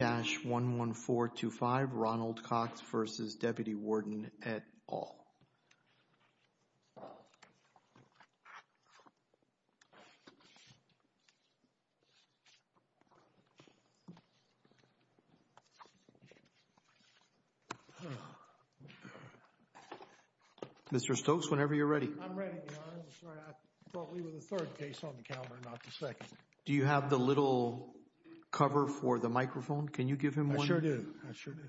at all. Mr. Stokes, whenever you're ready. I'm ready. I thought we were the third case on the calendar, not the second. Do you have the little cover for the microphone? Can you give him one? I sure do. I sure do.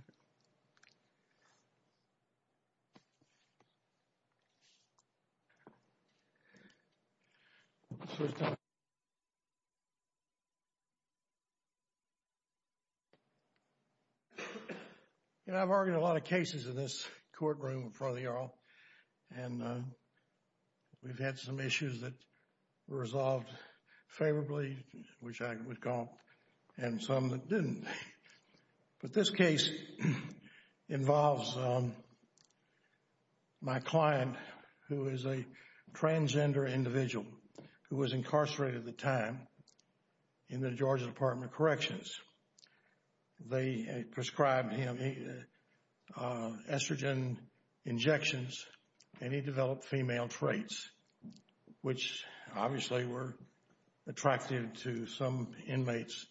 You know, I've argued a lot of cases in this courtroom in front of you all, and we've had some issues that were resolved favorably, which I would call, and some that didn't. But this case involves my client, who is a transgender individual who was incarcerated at the time in the Georgia Department of Corrections. They prescribed him estrogen injections, and he developed female traits, which obviously were attractive to some inmates.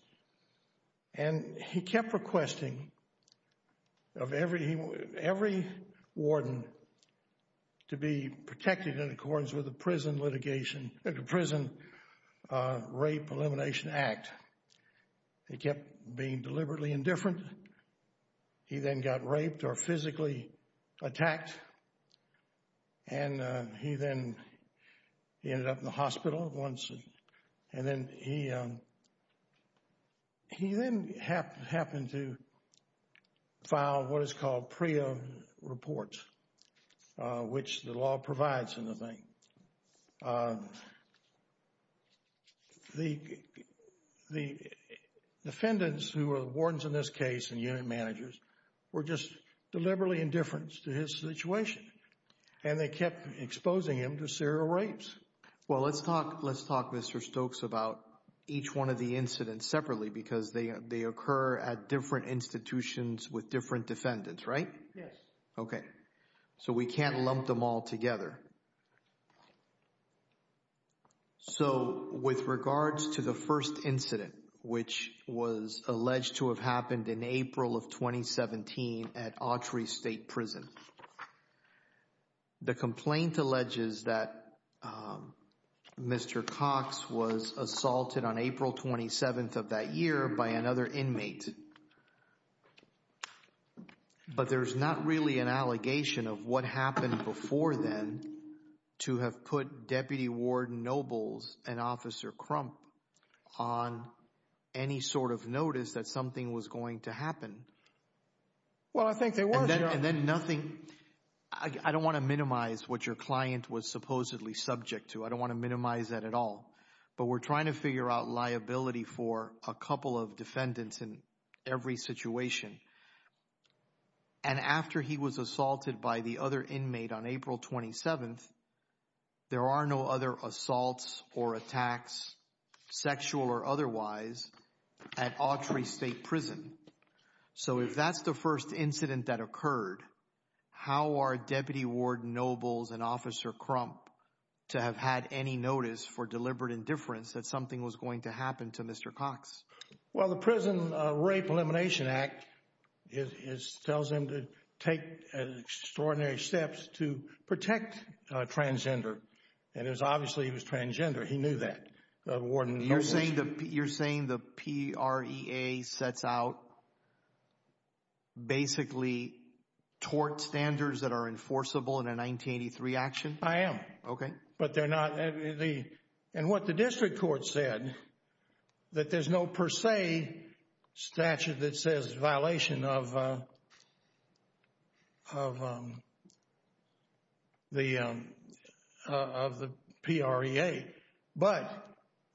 And he kept requesting of every warden to be protected in accordance with the Prison Rape Elimination Act. He kept being deliberately indifferent. He then got raped or physically attacked, and he then ended up in the hospital. And he then happened to file what is called PREA reports, which the law provides in the thing. The defendants who were wardens in this case and unit managers were just deliberately indifferent to his situation, and they kept exposing him to serial rapes. Well, let's talk, Mr. Stokes, about each one of the incidents separately, because they occur at different institutions with different defendants, right? Yes. Okay. So we can't lump them all together. So with regards to the first incident, which was alleged to have happened in April of 2017 at Autry State Prison, the complaint alleges that Mr. Cox was assaulted on April 27th of that year by another inmate. But there's not really an allegation of what happened before then to have put Deputy Warden Nobles and Officer Crump on any sort of notice that something was going to happen. Well, I think there was, Your Honor. And then nothing, I don't want to minimize what your client was supposedly subject to. I don't want to minimize that at all. But we're trying to figure out liability for a couple of defendants in every situation. And after he was assaulted by the other inmate on April 27th, there are no other assaults or attacks, sexual or otherwise, at Autry State Prison. So if that's the first incident that occurred, how are Deputy Warden Nobles and Officer Crump to have had any notice for deliberate indifference that something was going to happen to Mr. Cox? Well, the Prison Rape Elimination Act tells him to take extraordinary steps to protect transgender. And it was obviously he was transgender. He knew that, Warden Nobles. You're saying the PREA sets out basically tort standards that are enforceable in a 1983 action? I am. Okay. But they're not, and what the district court said, that there's no per se statute that says violation of the PREA. But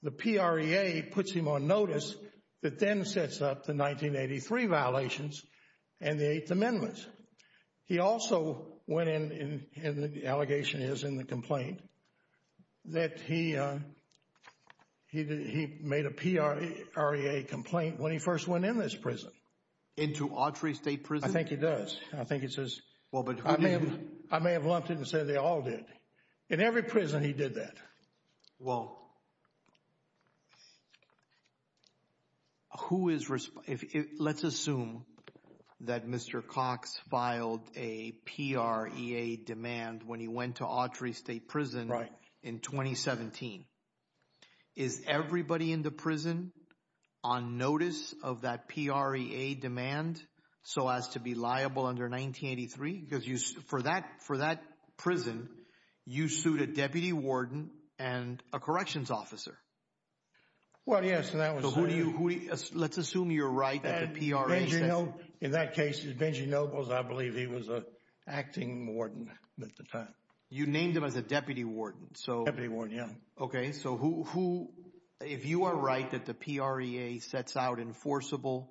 the PREA puts him on notice that then sets up the 1983 violations and the Eighth Amendment. He made a PREA complaint when he first went in this prison. Into Autry State Prison? I think he does. I may have lumped it and said they all did. In every prison he did that. Well, let's assume that Mr. Cox filed a PREA demand when he went to Autry State Prison in 2017. Is everybody in the prison on notice of that PREA demand so as to be liable under 1983? Because for that prison, you sued a Deputy Warden and a Corrections Officer. Well, yes. Let's assume you're right. In that case, Benji Nobles, I believe he was an acting warden at the time. You named him as a Deputy Warden. Deputy Warden, yeah. Okay. So, if you are right that the PREA sets out enforceable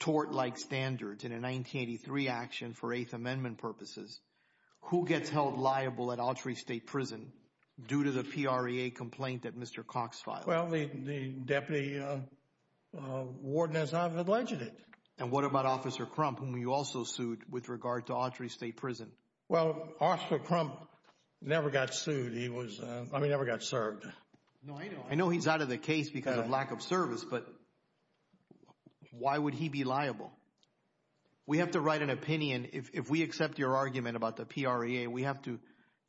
tort-like standards in a 1983 action for Eighth Amendment purposes, who gets held liable at Autry State Prison due to the PREA complaint that Mr. Cox filed? Well, the Deputy Warden, as I've alleged it. And what about Officer Crump, whom you also sued with regard to Autry State Prison? Well, Officer Crump never got sued. He never got served. I know he's out of the case because of lack of service, but why would he be liable? We have to write an opinion. If we accept your argument about the PREA, we have to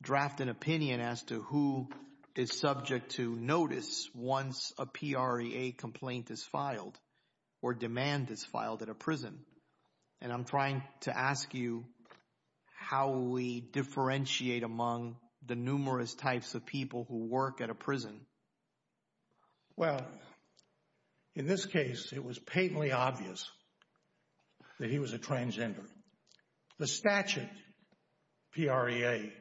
draft an opinion as to who is subject to notice once a PREA complaint is filed or demand is filed at a prison. And I'm trying to ask you how we differentiate among the numerous types of people who work at a prison. Well, in this case, it was patently obvious that he was a transgender. The statute, PREA,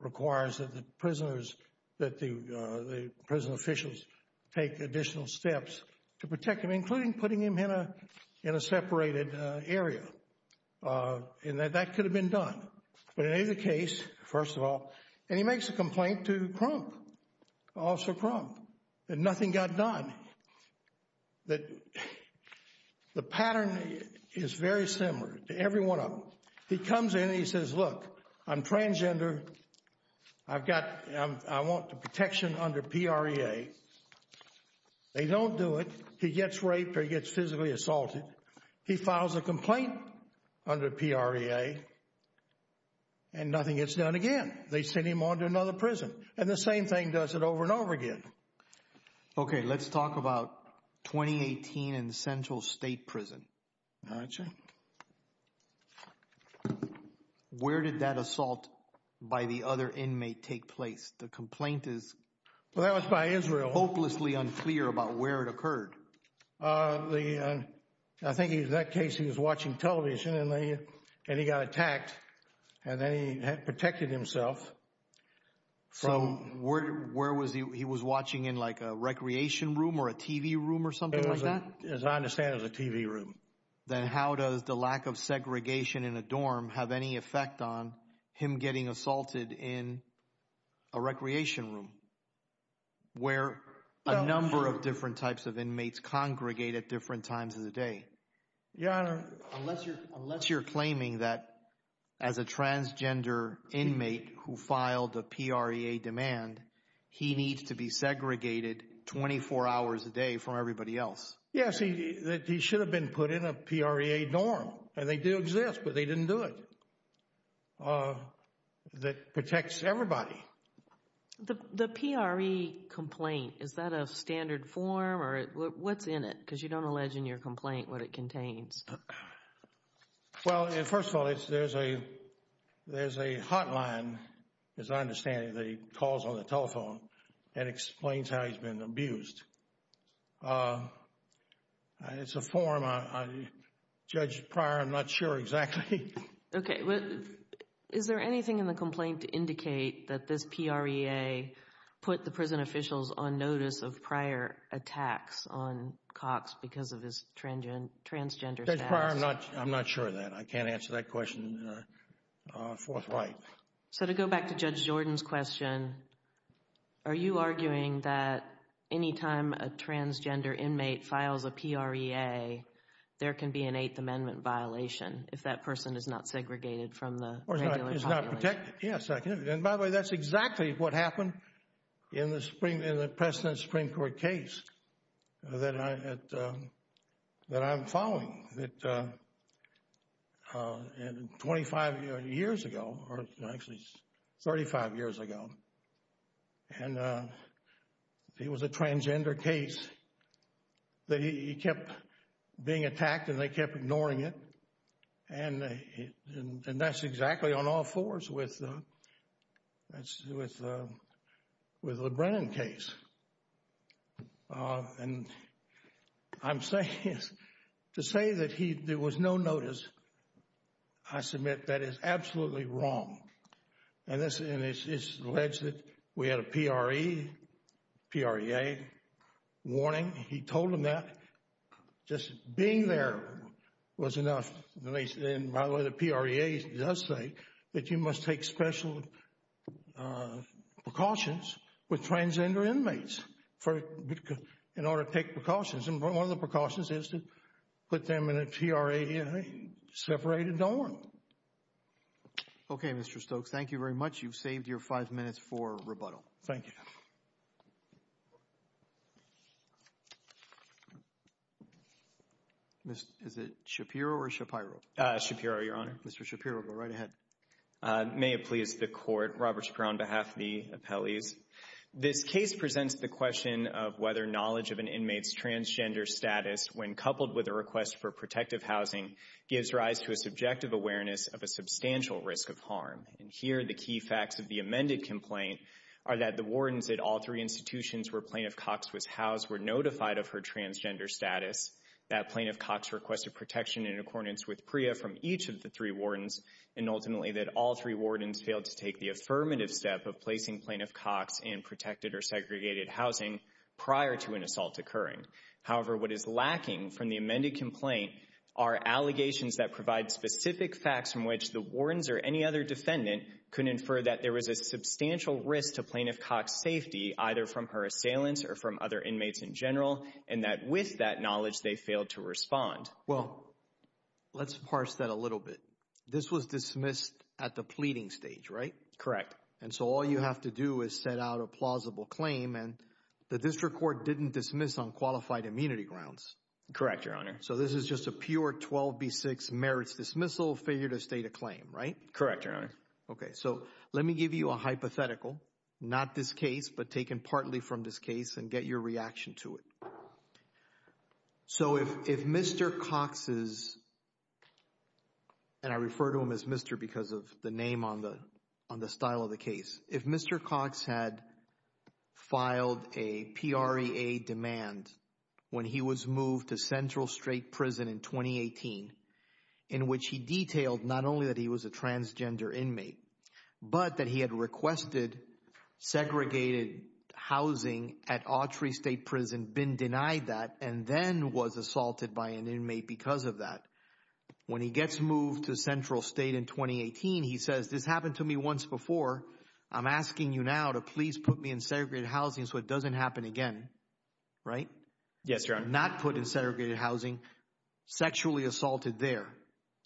requires that the prisoners, that the prison officials take additional steps to protect him, including putting him in a separated area. And that could have been done. But in either case, first of all, and he makes a complaint to Crump, Officer Crump, that nothing got done. The pattern is very similar to every one of them. He comes in and he says, look, I'm transgender. I've got, I want the protection under PREA. They don't do it. He gets raped or he gets physically assaulted. He files a complaint under PREA and nothing gets done again. They send him to another prison. And the same thing does it over and over again. Okay. Let's talk about 2018 in Central State Prison. Where did that assault by the other inmate take place? The complaint is... Well, that was by Israel. ...hopelessly unclear about where it occurred. I think in that case, he was watching television and he got attacked and then he had protected himself. So where was he? He was watching in like a recreation room or a TV room or something like that? As I understand, it was a TV room. Then how does the lack of segregation in a dorm have any effect on him getting assaulted in a recreation room where a number of different types of inmates congregate at different times of the day? Your Honor... ...who filed the PREA demand, he needs to be segregated 24 hours a day from everybody else. Yes, he should have been put in a PREA dorm. And they do exist, but they didn't do it. That protects everybody. The PREA complaint, is that a standard form or what's in it? Because you don't allege in your complaint what it contains. Well, first of all, there's a hotline, as I understand it, that he calls on the telephone and explains how he's been abused. It's a form. Judge Pryor, I'm not sure exactly. Okay. Is there anything in the complaint to indicate that this PREA put the prison I'm not sure of that. I can't answer that question forthright. So to go back to Judge Jordan's question, are you arguing that anytime a transgender inmate files a PREA, there can be an Eighth Amendment violation if that person is not segregated from the regular population? Is not protected. Yes, I can. And by the way, that's exactly what happened in the precedent Supreme Court case that I'm following, that 25 years ago, or actually 35 years ago. And it was a transgender case that he kept being attacked and they kept ignoring it. And that's exactly on all fours with the Brennan case. And I'm saying, to say that there was no notice, I submit that is absolutely wrong. And it's alleged that we had a PREA warning. He told them that just being there was enough. And by the way, the PREA does say that you must take special precautions with transgender inmates in order to take precautions. And one of the precautions is to put them in a PREA-separated dorm. Okay, Mr. Stokes, thank you very much. You've saved your five minutes for rebuttal. Thank you. Is it Shapiro or Shapiro? Shapiro, Your Honor. Mr. Shapiro, go right ahead. May it please the Court, Robert Shapiro on behalf of the appellees. This case presents the question of whether knowledge of an inmate's transgender status when coupled with a request for protective housing gives rise to a subjective awareness of a substantial risk of harm. And here, the key facts of the amended complaint are that the wardens at all three institutions where Plaintiff Cox was housed were notified of her transgender status, that Plaintiff Cox requested protection in accordance with PREA from each of the three wardens, and ultimately that all three wardens failed to take the affirmative step of placing Plaintiff Cox in protected or segregated housing prior to an assault occurring. However, what is lacking from the amended complaint are allegations that provide specific facts from which the wardens or any other defendant could infer that there was a substantial risk to Plaintiff Cox's safety, either from her assailants or from other inmates in general, and that with that knowledge they failed to respond. Well, let's parse that a little bit. This was dismissed at the pleading stage, right? Correct. And so all you have to do is set out a plausible claim and the district court didn't dismiss on qualified immunity grounds. Correct, Your Honor. So this is just a pure 12B6 merits dismissal, failure to state a claim, right? Correct, Your Honor. Okay, so let me give you a hypothetical, not this case, but taken partly from this case and get your reaction to it. So if Mr. Cox's, and I refer to him as Mr. because of the name on the style of the case, if Mr. Cox had filed a PREA demand when he was moved to Central State Prison in 2018, in which he detailed not only that he was a transgender inmate, but that he had requested segregated housing at Autry State Prison, been denied that, and then was assaulted by an inmate because of that. When he gets moved to Central State in 2018, he says, this happened to me once before. I'm asking you now to please put me in segregated housing so it doesn't happen again, right? Yes, Your Honor. Not put in segregated housing, sexually assaulted there.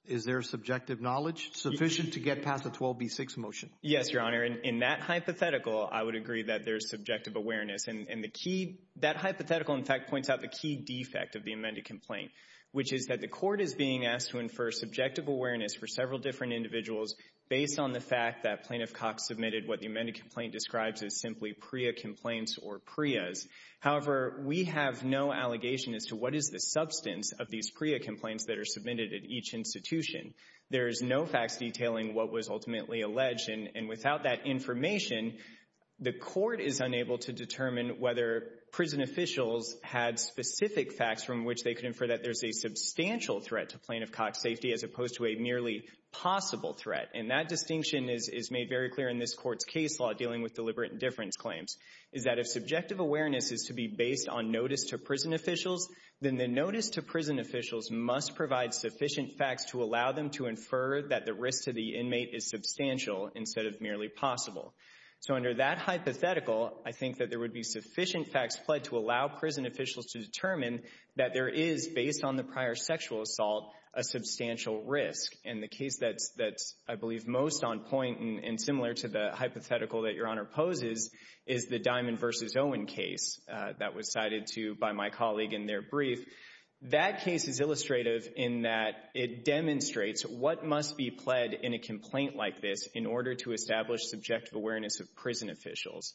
Is there subjective knowledge sufficient to get past the 12B6 motion? Yes, Your Honor. And in that hypothetical, I would agree that there's subjective awareness. And the key, that hypothetical, in fact, points out the key defect of the amended complaint, which is that the court is being asked to infer subjective awareness for several different individuals based on the fact that Plaintiff Cox submitted what the amended complaint describes as simply PREA complaints or PREAs. However, we have no allegation as to what is the substance of these PREA complaints that are submitted at each institution. There is no facts detailing what was ultimately alleged. And without that information, the court is unable to determine whether prison officials had specific facts from which they could infer that there's a substantial threat to Plaintiff Cox's safety as opposed to a merely possible threat. And that distinction is made very clear in this court's case law dealing with deliberate indifference claims, is that if subjective awareness is to be based on notice to prison officials, then the notice to prison officials must provide sufficient facts to allow them to infer that the risk to the inmate is substantial instead of merely possible. So under that hypothetical, I think that there would be sufficient facts fled to allow prison officials to determine that there is, based on the prior sexual assault, a substantial risk. And the case that's, I believe, most on point and similar to the hypothetical that Your Honor poses is the Diamond v. Owen case that was cited to you by my colleague in their brief. That case is illustrative in that it demonstrates what must be pled in a complaint like this in order to establish subjective awareness of prison officials.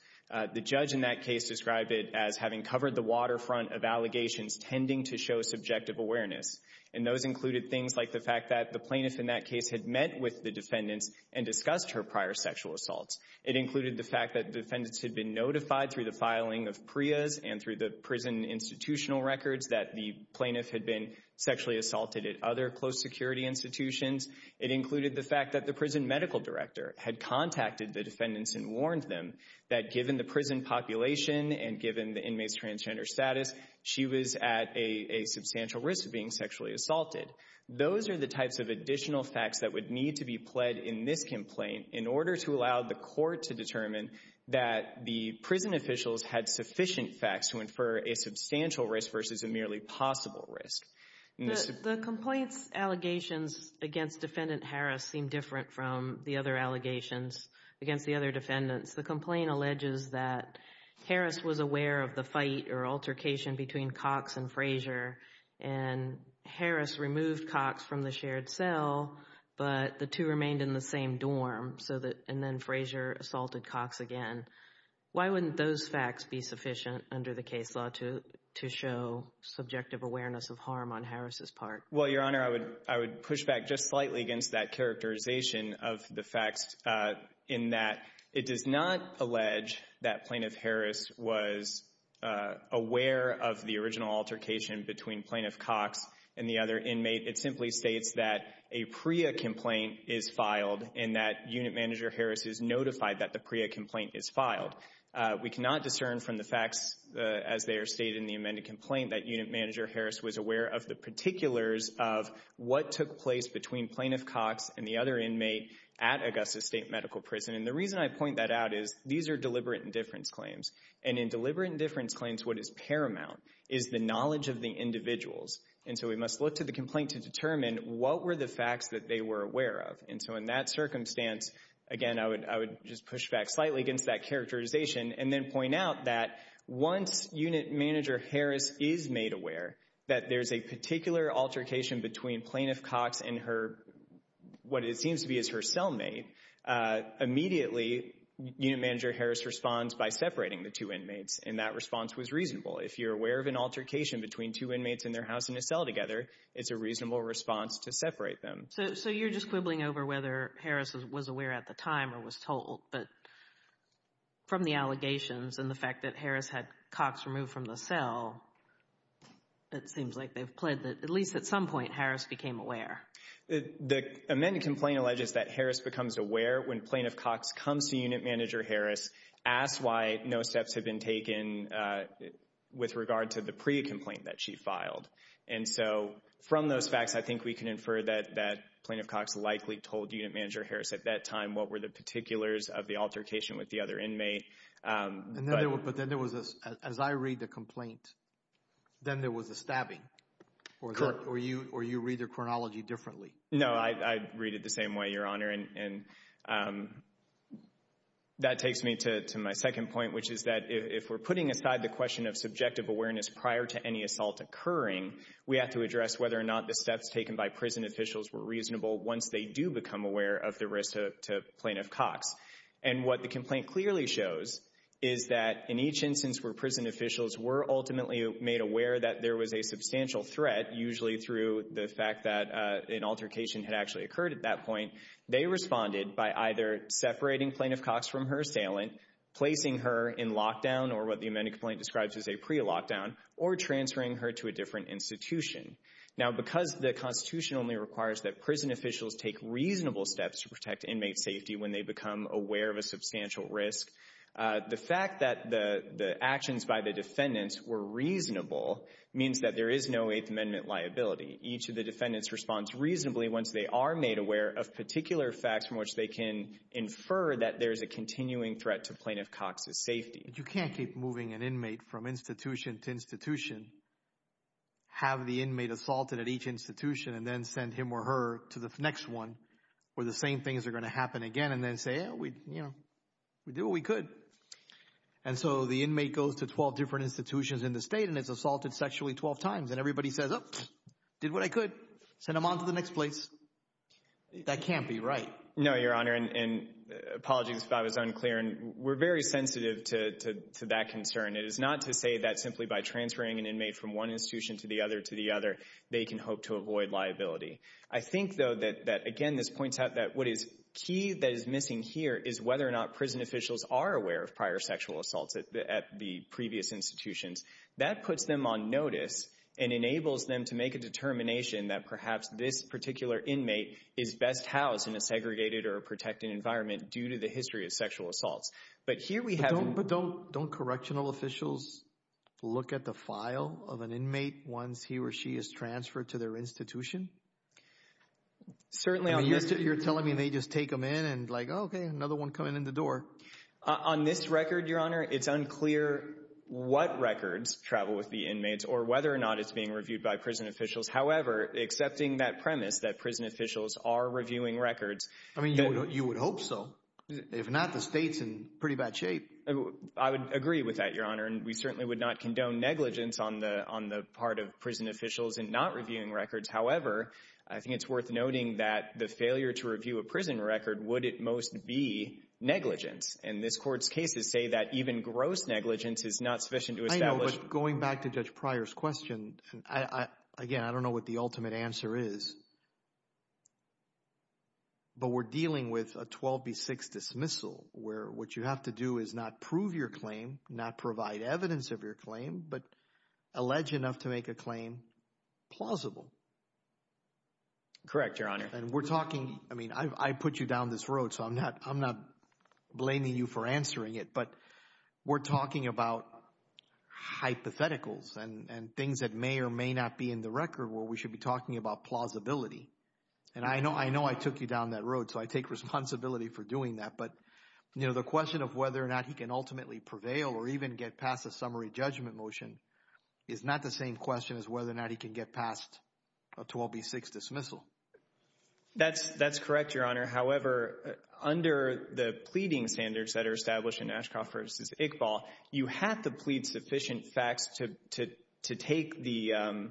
The judge in that case described it as having covered the waterfront of allegations tending to show subjective awareness. And those included things like the fact that the plaintiff in that case had met with the defendants and discussed her prior sexual assaults. It included the fact that defendants had been notified through the filing of PREAs and through the prison institutional records that the plaintiff had been sexually assaulted at other close security institutions. It included the fact that the prison medical director had contacted the defendants and warned them that given the inmates' transgender status, she was at a substantial risk of being sexually assaulted. Those are the types of additional facts that would need to be pled in this complaint in order to allow the court to determine that the prison officials had sufficient facts to infer a substantial risk versus a merely possible risk. The complaint's allegations against defendant Harris seem different from the other allegations against the other defendants. The complaint alleges that Harris was aware of the fight or altercation between Cox and Frazier, and Harris removed Cox from the shared cell, but the two remained in the same dorm, and then Frazier assaulted Cox again. Why wouldn't those facts be sufficient under the case law to show subjective awareness of harm on Harris's part? Well, Your Honor, I would push back just slightly against that uh, aware of the original altercation between Plaintiff Cox and the other inmate. It simply states that a PREA complaint is filed and that Unit Manager Harris is notified that the PREA complaint is filed. We cannot discern from the facts as they are stated in the amended complaint that Unit Manager Harris was aware of the particulars of what took place between Plaintiff Cox and the other inmate at Augusta State Medical Prison, and the reason I point that out is these are deliberate indifference claims, and in deliberate indifference claims, what is paramount is the knowledge of the individuals, and so we must look to the complaint to determine what were the facts that they were aware of, and so in that circumstance, again, I would just push back slightly against that characterization and then point out that once Unit Manager Harris is made aware that there's a particular altercation between Plaintiff Cox and her, what it seems to her cellmate, immediately Unit Manager Harris responds by separating the two inmates, and that response was reasonable. If you're aware of an altercation between two inmates in their house in a cell together, it's a reasonable response to separate them. So you're just quibbling over whether Harris was aware at the time or was told, but from the allegations and the fact that Harris had Cox removed from the cell, it seems like they've pled that at least at some point Harris became aware. The amended complaint alleges that Harris becomes aware when Plaintiff Cox comes to Unit Manager Harris, asks why no steps have been taken with regard to the pre-complaint that she filed, and so from those facts, I think we can infer that that Plaintiff Cox likely told Unit Manager Harris at that time what were the particulars of the altercation with the other inmate. But then there was, as I read the complaint, then there was a stabbing, or you read their chronology differently. No, I read it the same way, Your Honor, and that takes me to my second point, which is that if we're putting aside the question of subjective awareness prior to any assault occurring, we have to address whether or not the steps taken by prison officials were reasonable once they do become aware of the risk to Plaintiff Cox. And what the complaint clearly shows is that in each instance where prison officials were made aware that there was a substantial threat, usually through the fact that an altercation had actually occurred at that point, they responded by either separating Plaintiff Cox from her assailant, placing her in lockdown, or what the amended complaint describes as a pre-lockdown, or transferring her to a different institution. Now because the Constitution only requires that prison officials take reasonable steps to protect inmate safety when they become aware of a reasonable means that there is no Eighth Amendment liability. Each of the defendants responds reasonably once they are made aware of particular facts from which they can infer that there's a continuing threat to Plaintiff Cox's safety. You can't keep moving an inmate from institution to institution, have the inmate assaulted at each institution, and then send him or her to the next one where the same things are going to happen again, and then say, yeah, we, we did what we could. And so the inmate goes to 12 different institutions in the state, and it's assaulted sexually 12 times, and everybody says, oh, did what I could, send them on to the next place. That can't be right. No, Your Honor, and apologies if I was unclear, and we're very sensitive to that concern. It is not to say that simply by transferring an inmate from one institution to the other to the other, they can hope to avoid liability. I think, though, that, again, this points out that what is key that is missing here is whether or not prison officials are aware of prior sexual assaults at the previous institutions. That puts them on notice and enables them to make a determination that perhaps this particular inmate is best housed in a segregated or a protected environment due to the history of sexual assaults. But here we have— But don't, don't, don't correctional officials look at the file of an inmate once he or she is transferred to their institution? Certainly on this— I mean, you're telling me they just take them in and like, oh, okay, another one coming in the door. On this record, Your Honor, it's unclear what records travel with the inmates or whether or not it's being reviewed by prison officials. However, accepting that premise that prison officials are reviewing records— I mean, you would hope so. If not, the state's in pretty bad shape. I would agree with that, Your Honor, and we certainly would not condone negligence on the part of prison officials in not reviewing records. However, I think it's worth noting that the failure to review a prison record, would it most be negligence? And this Court's cases say that even gross negligence is not sufficient to establish— I know, but going back to Judge Pryor's question, again, I don't know what the ultimate answer is, but we're dealing with a 12B6 dismissal where what you have to do is not prove your claim, not provide evidence of your claim, but allege enough to make a claim plausible. Correct, Your Honor. And we're talking— I mean, I put you down this road, so I'm not blaming you for answering it, but we're talking about hypotheticals and things that may or may not be in the record where we should be talking about plausibility. And I know I took you down that road, so I take responsibility for doing that, but, you know, the question of whether or not he can ultimately prevail or even get past a summary judgment motion is not the same question as whether or not he can get past a 12B6 dismissal. That's correct, Your Honor. However, under the pleading standards that are established in Ashcroft v. Iqbal, you have to plead sufficient facts to take the—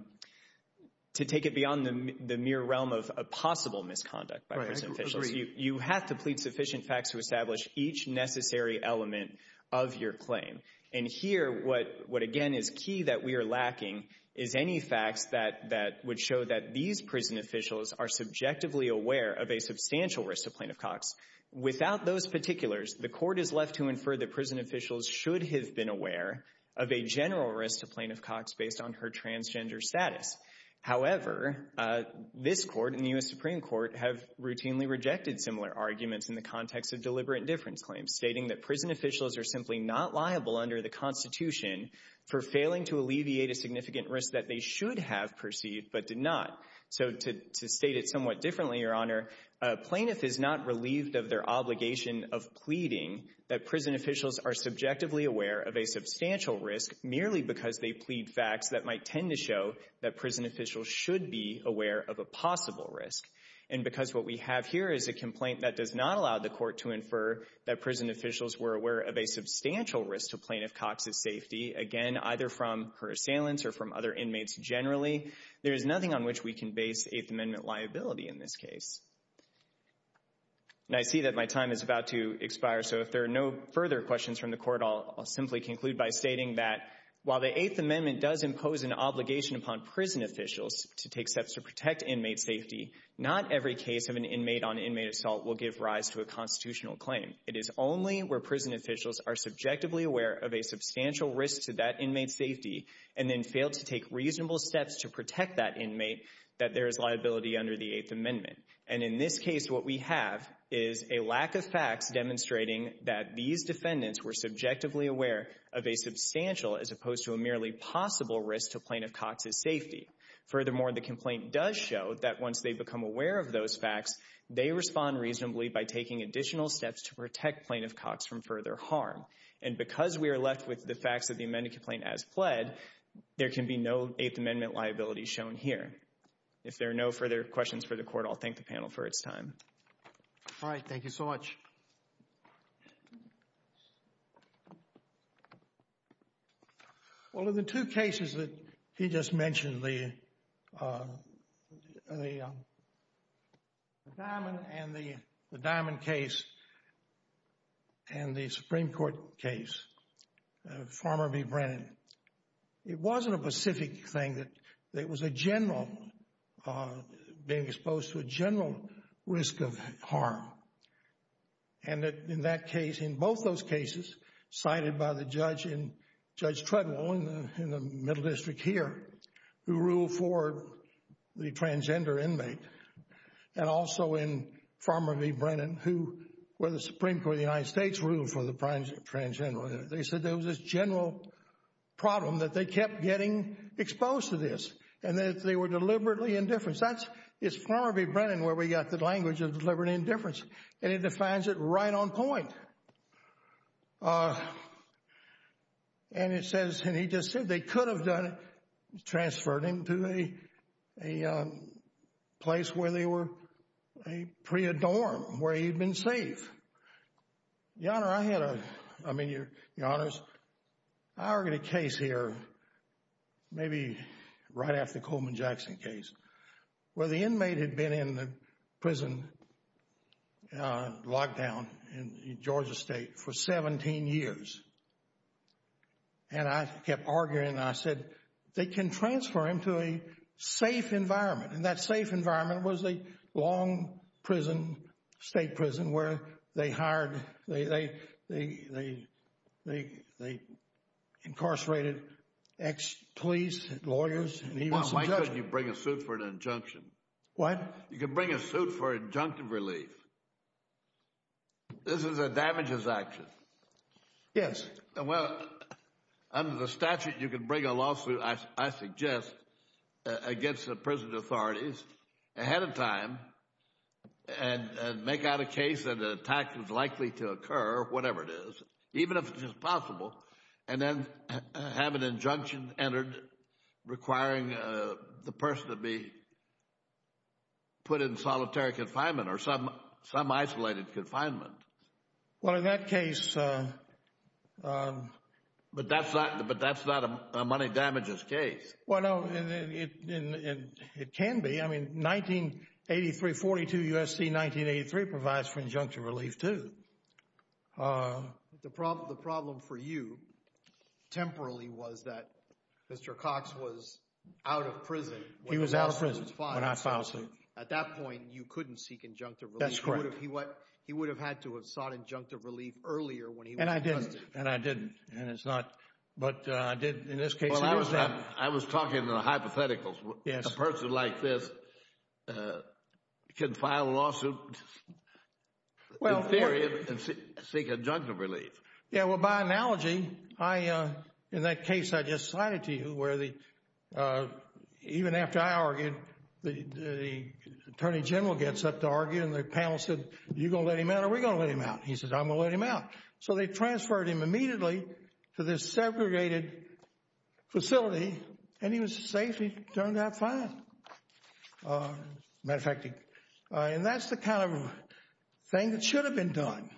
to take it beyond the mere realm of a possible misconduct by prison officials. You have to plead sufficient facts to establish each necessary element of your claim. And here, what again is key that we are lacking is any facts that would show that these prison officials are subjectively aware of a substantial risk to Plaintiff Cox. Without those particulars, the Court is left to infer that prison officials should have been aware of a general risk to Plaintiff Cox based on her transgender status. However, this Court and the U.S. Supreme Court have routinely rejected similar arguments in the context of deliberate difference claims, stating that prison officials are simply not liable under the Constitution for failing to alleviate a significant risk that they should have perceived but did not. So to state it somewhat differently, Your Honor, a plaintiff is not relieved of their obligation of pleading that prison officials are subjectively aware of a substantial risk merely because they plead facts that might tend to show that prison officials should be aware of a possible risk. And because what we have here is a complaint that does not allow the Court to infer that prison officials were aware of a substantial risk to Plaintiff Cox's safety, again, either from her assailants or from other inmates generally, there is nothing on which we can base Eighth Amendment liability in this case. And I see that my time is about to expire, so if there are no further questions from the Court, I'll simply conclude by stating that while the Eighth Amendment does impose an obligation upon prison officials to take every case of an inmate-on-inmate assault will give rise to a constitutional claim, it is only where prison officials are subjectively aware of a substantial risk to that inmate's safety and then fail to take reasonable steps to protect that inmate that there is liability under the Eighth Amendment. And in this case, what we have is a lack of facts demonstrating that these defendants were subjectively aware of a substantial as opposed to a merely possible risk to Plaintiff Cox's safety. Furthermore, the complaint does show that once they become aware of those facts, they respond reasonably by taking additional steps to protect Plaintiff Cox from further harm. And because we are left with the facts of the amended complaint as pled, there can be no Eighth Amendment liability shown here. If there are no further questions for the Court, I'll thank the panel for its time. All right. Thank you so much. Well, of the two cases that he just mentioned, the Diamond case and the Supreme Court case, Farmer v. Brennan, it wasn't a specific thing that it was a general, being exposed to a general risk of harm. And in that case, in both those cases cited by the judge in Judge Treadwell in the Middle District here, who ruled for the transgender inmate, and also in Farmer v. Brennan, who where the Supreme Court of the United States ruled for the transgender, they said there was this general problem that they kept getting exposed to this. And that they were deliberately indifference. That's, it's Farmer v. Brennan where we got the language of deliberately indifference. And it defines it right on point. And it says, and he just said they could have done it, transferred him to a place where they were a pre-adorn, where he'd been safe. Your Honor, I had a, I mean, Your Honors, I already had a case here, maybe right after the Coleman Jackson case, where the inmate had been in the prison lockdown in Georgia State for 17 years. And I kept arguing and I said, they can transfer him to a safe environment. And that safe environment was a long prison, state prison, where they hired, they, they, they, they, they incarcerated ex-police, lawyers, and even some judges. Well, why couldn't you bring a suit for an injunction? What? You can bring a suit for injunctive relief. This is a damages action. Yes. And well, under the statute, you can bring a lawsuit, I suggest, against the prison authorities ahead of time and make out a case that an attack was likely to occur, whatever it is, even if it is possible, and then have an injunction entered requiring the person to be put in solitary confinement or some, some isolated confinement. Well, in that case. But that's not, but that's not a money damages case. Well, no, it, it can be. I mean, 1983, 42 U.S.C. 1983 provides for injunctive relief, too. The problem, the problem for you, temporarily, was that Mr. Cox was out of prison. He was out of prison when I filed suit. At that point, you couldn't seek injunctive relief. That's correct. He would have had to have sought injunctive relief earlier when he was arrested. And I didn't. And I didn't. And it's not, but I did in this case. I was talking about hypotheticals. A person like this can file a lawsuit in theory and seek injunctive relief. Yeah, well, by analogy, I, in that case I just cited to you where the, even after I argued, the Attorney General gets up to argue and the panel said, you're going to let him out or we're going to let him out. He says, I'm going to let him out. So they transferred him immediately to this segregated facility and he was safe. He turned out fine. Matter of fact, and that's the kind of thing that should have been done.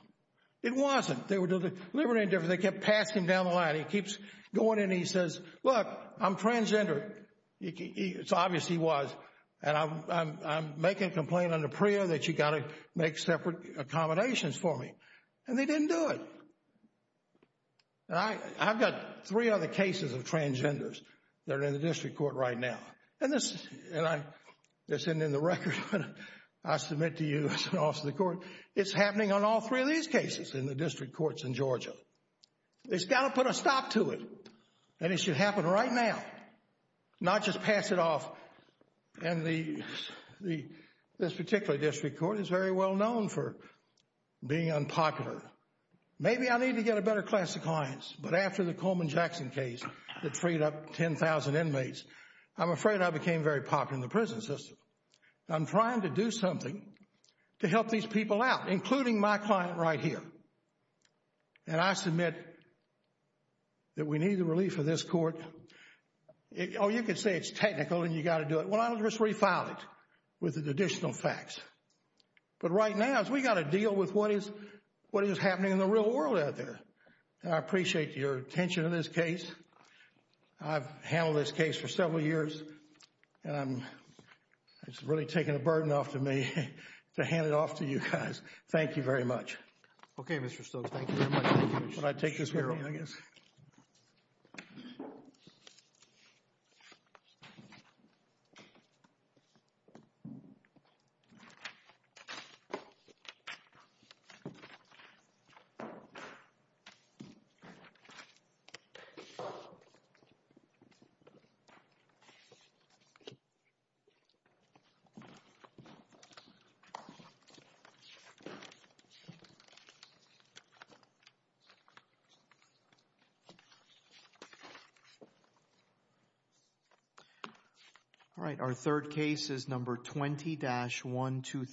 It wasn't. They were doing the liberty and indifference. They kept passing him down the line. He keeps going and he says, look, I'm transgender. It's obvious he was. And I'm making a complaint under PREA that you got to make separate accommodations for me. And they didn't do it. I've got three other cases of transgenders that are in the district court right now. And this, and I, this isn't in the record, but I submit to you as an officer of the court, it's happening on all three of these cases in the district courts in Georgia. It's got to put a stop to it. And it should happen right now, not just pass it off. And the, this particular district court is very well known for being unpopular. Maybe I need to get a better class of clients. But after the Coleman Jackson case that freed up 10,000 inmates, I'm afraid I became very popular in the prison system. I'm trying to do something to help these people out, including my client right here. And I submit that we need the relief of this court. It, oh, you could say it's technical and you got to do it. Well, I'll just refile it with additional facts. But right now is we got to deal with what is, what is happening in the real world out there. And I appreciate your attention to this case. I've handled this case for several years. And it's really taken a burden off to me to hand it off to you guys. Thank you very much. Okay, Mr. Stokes. Thank you very much. Would I take this with me, I guess? All right. Our third case is number 20-123.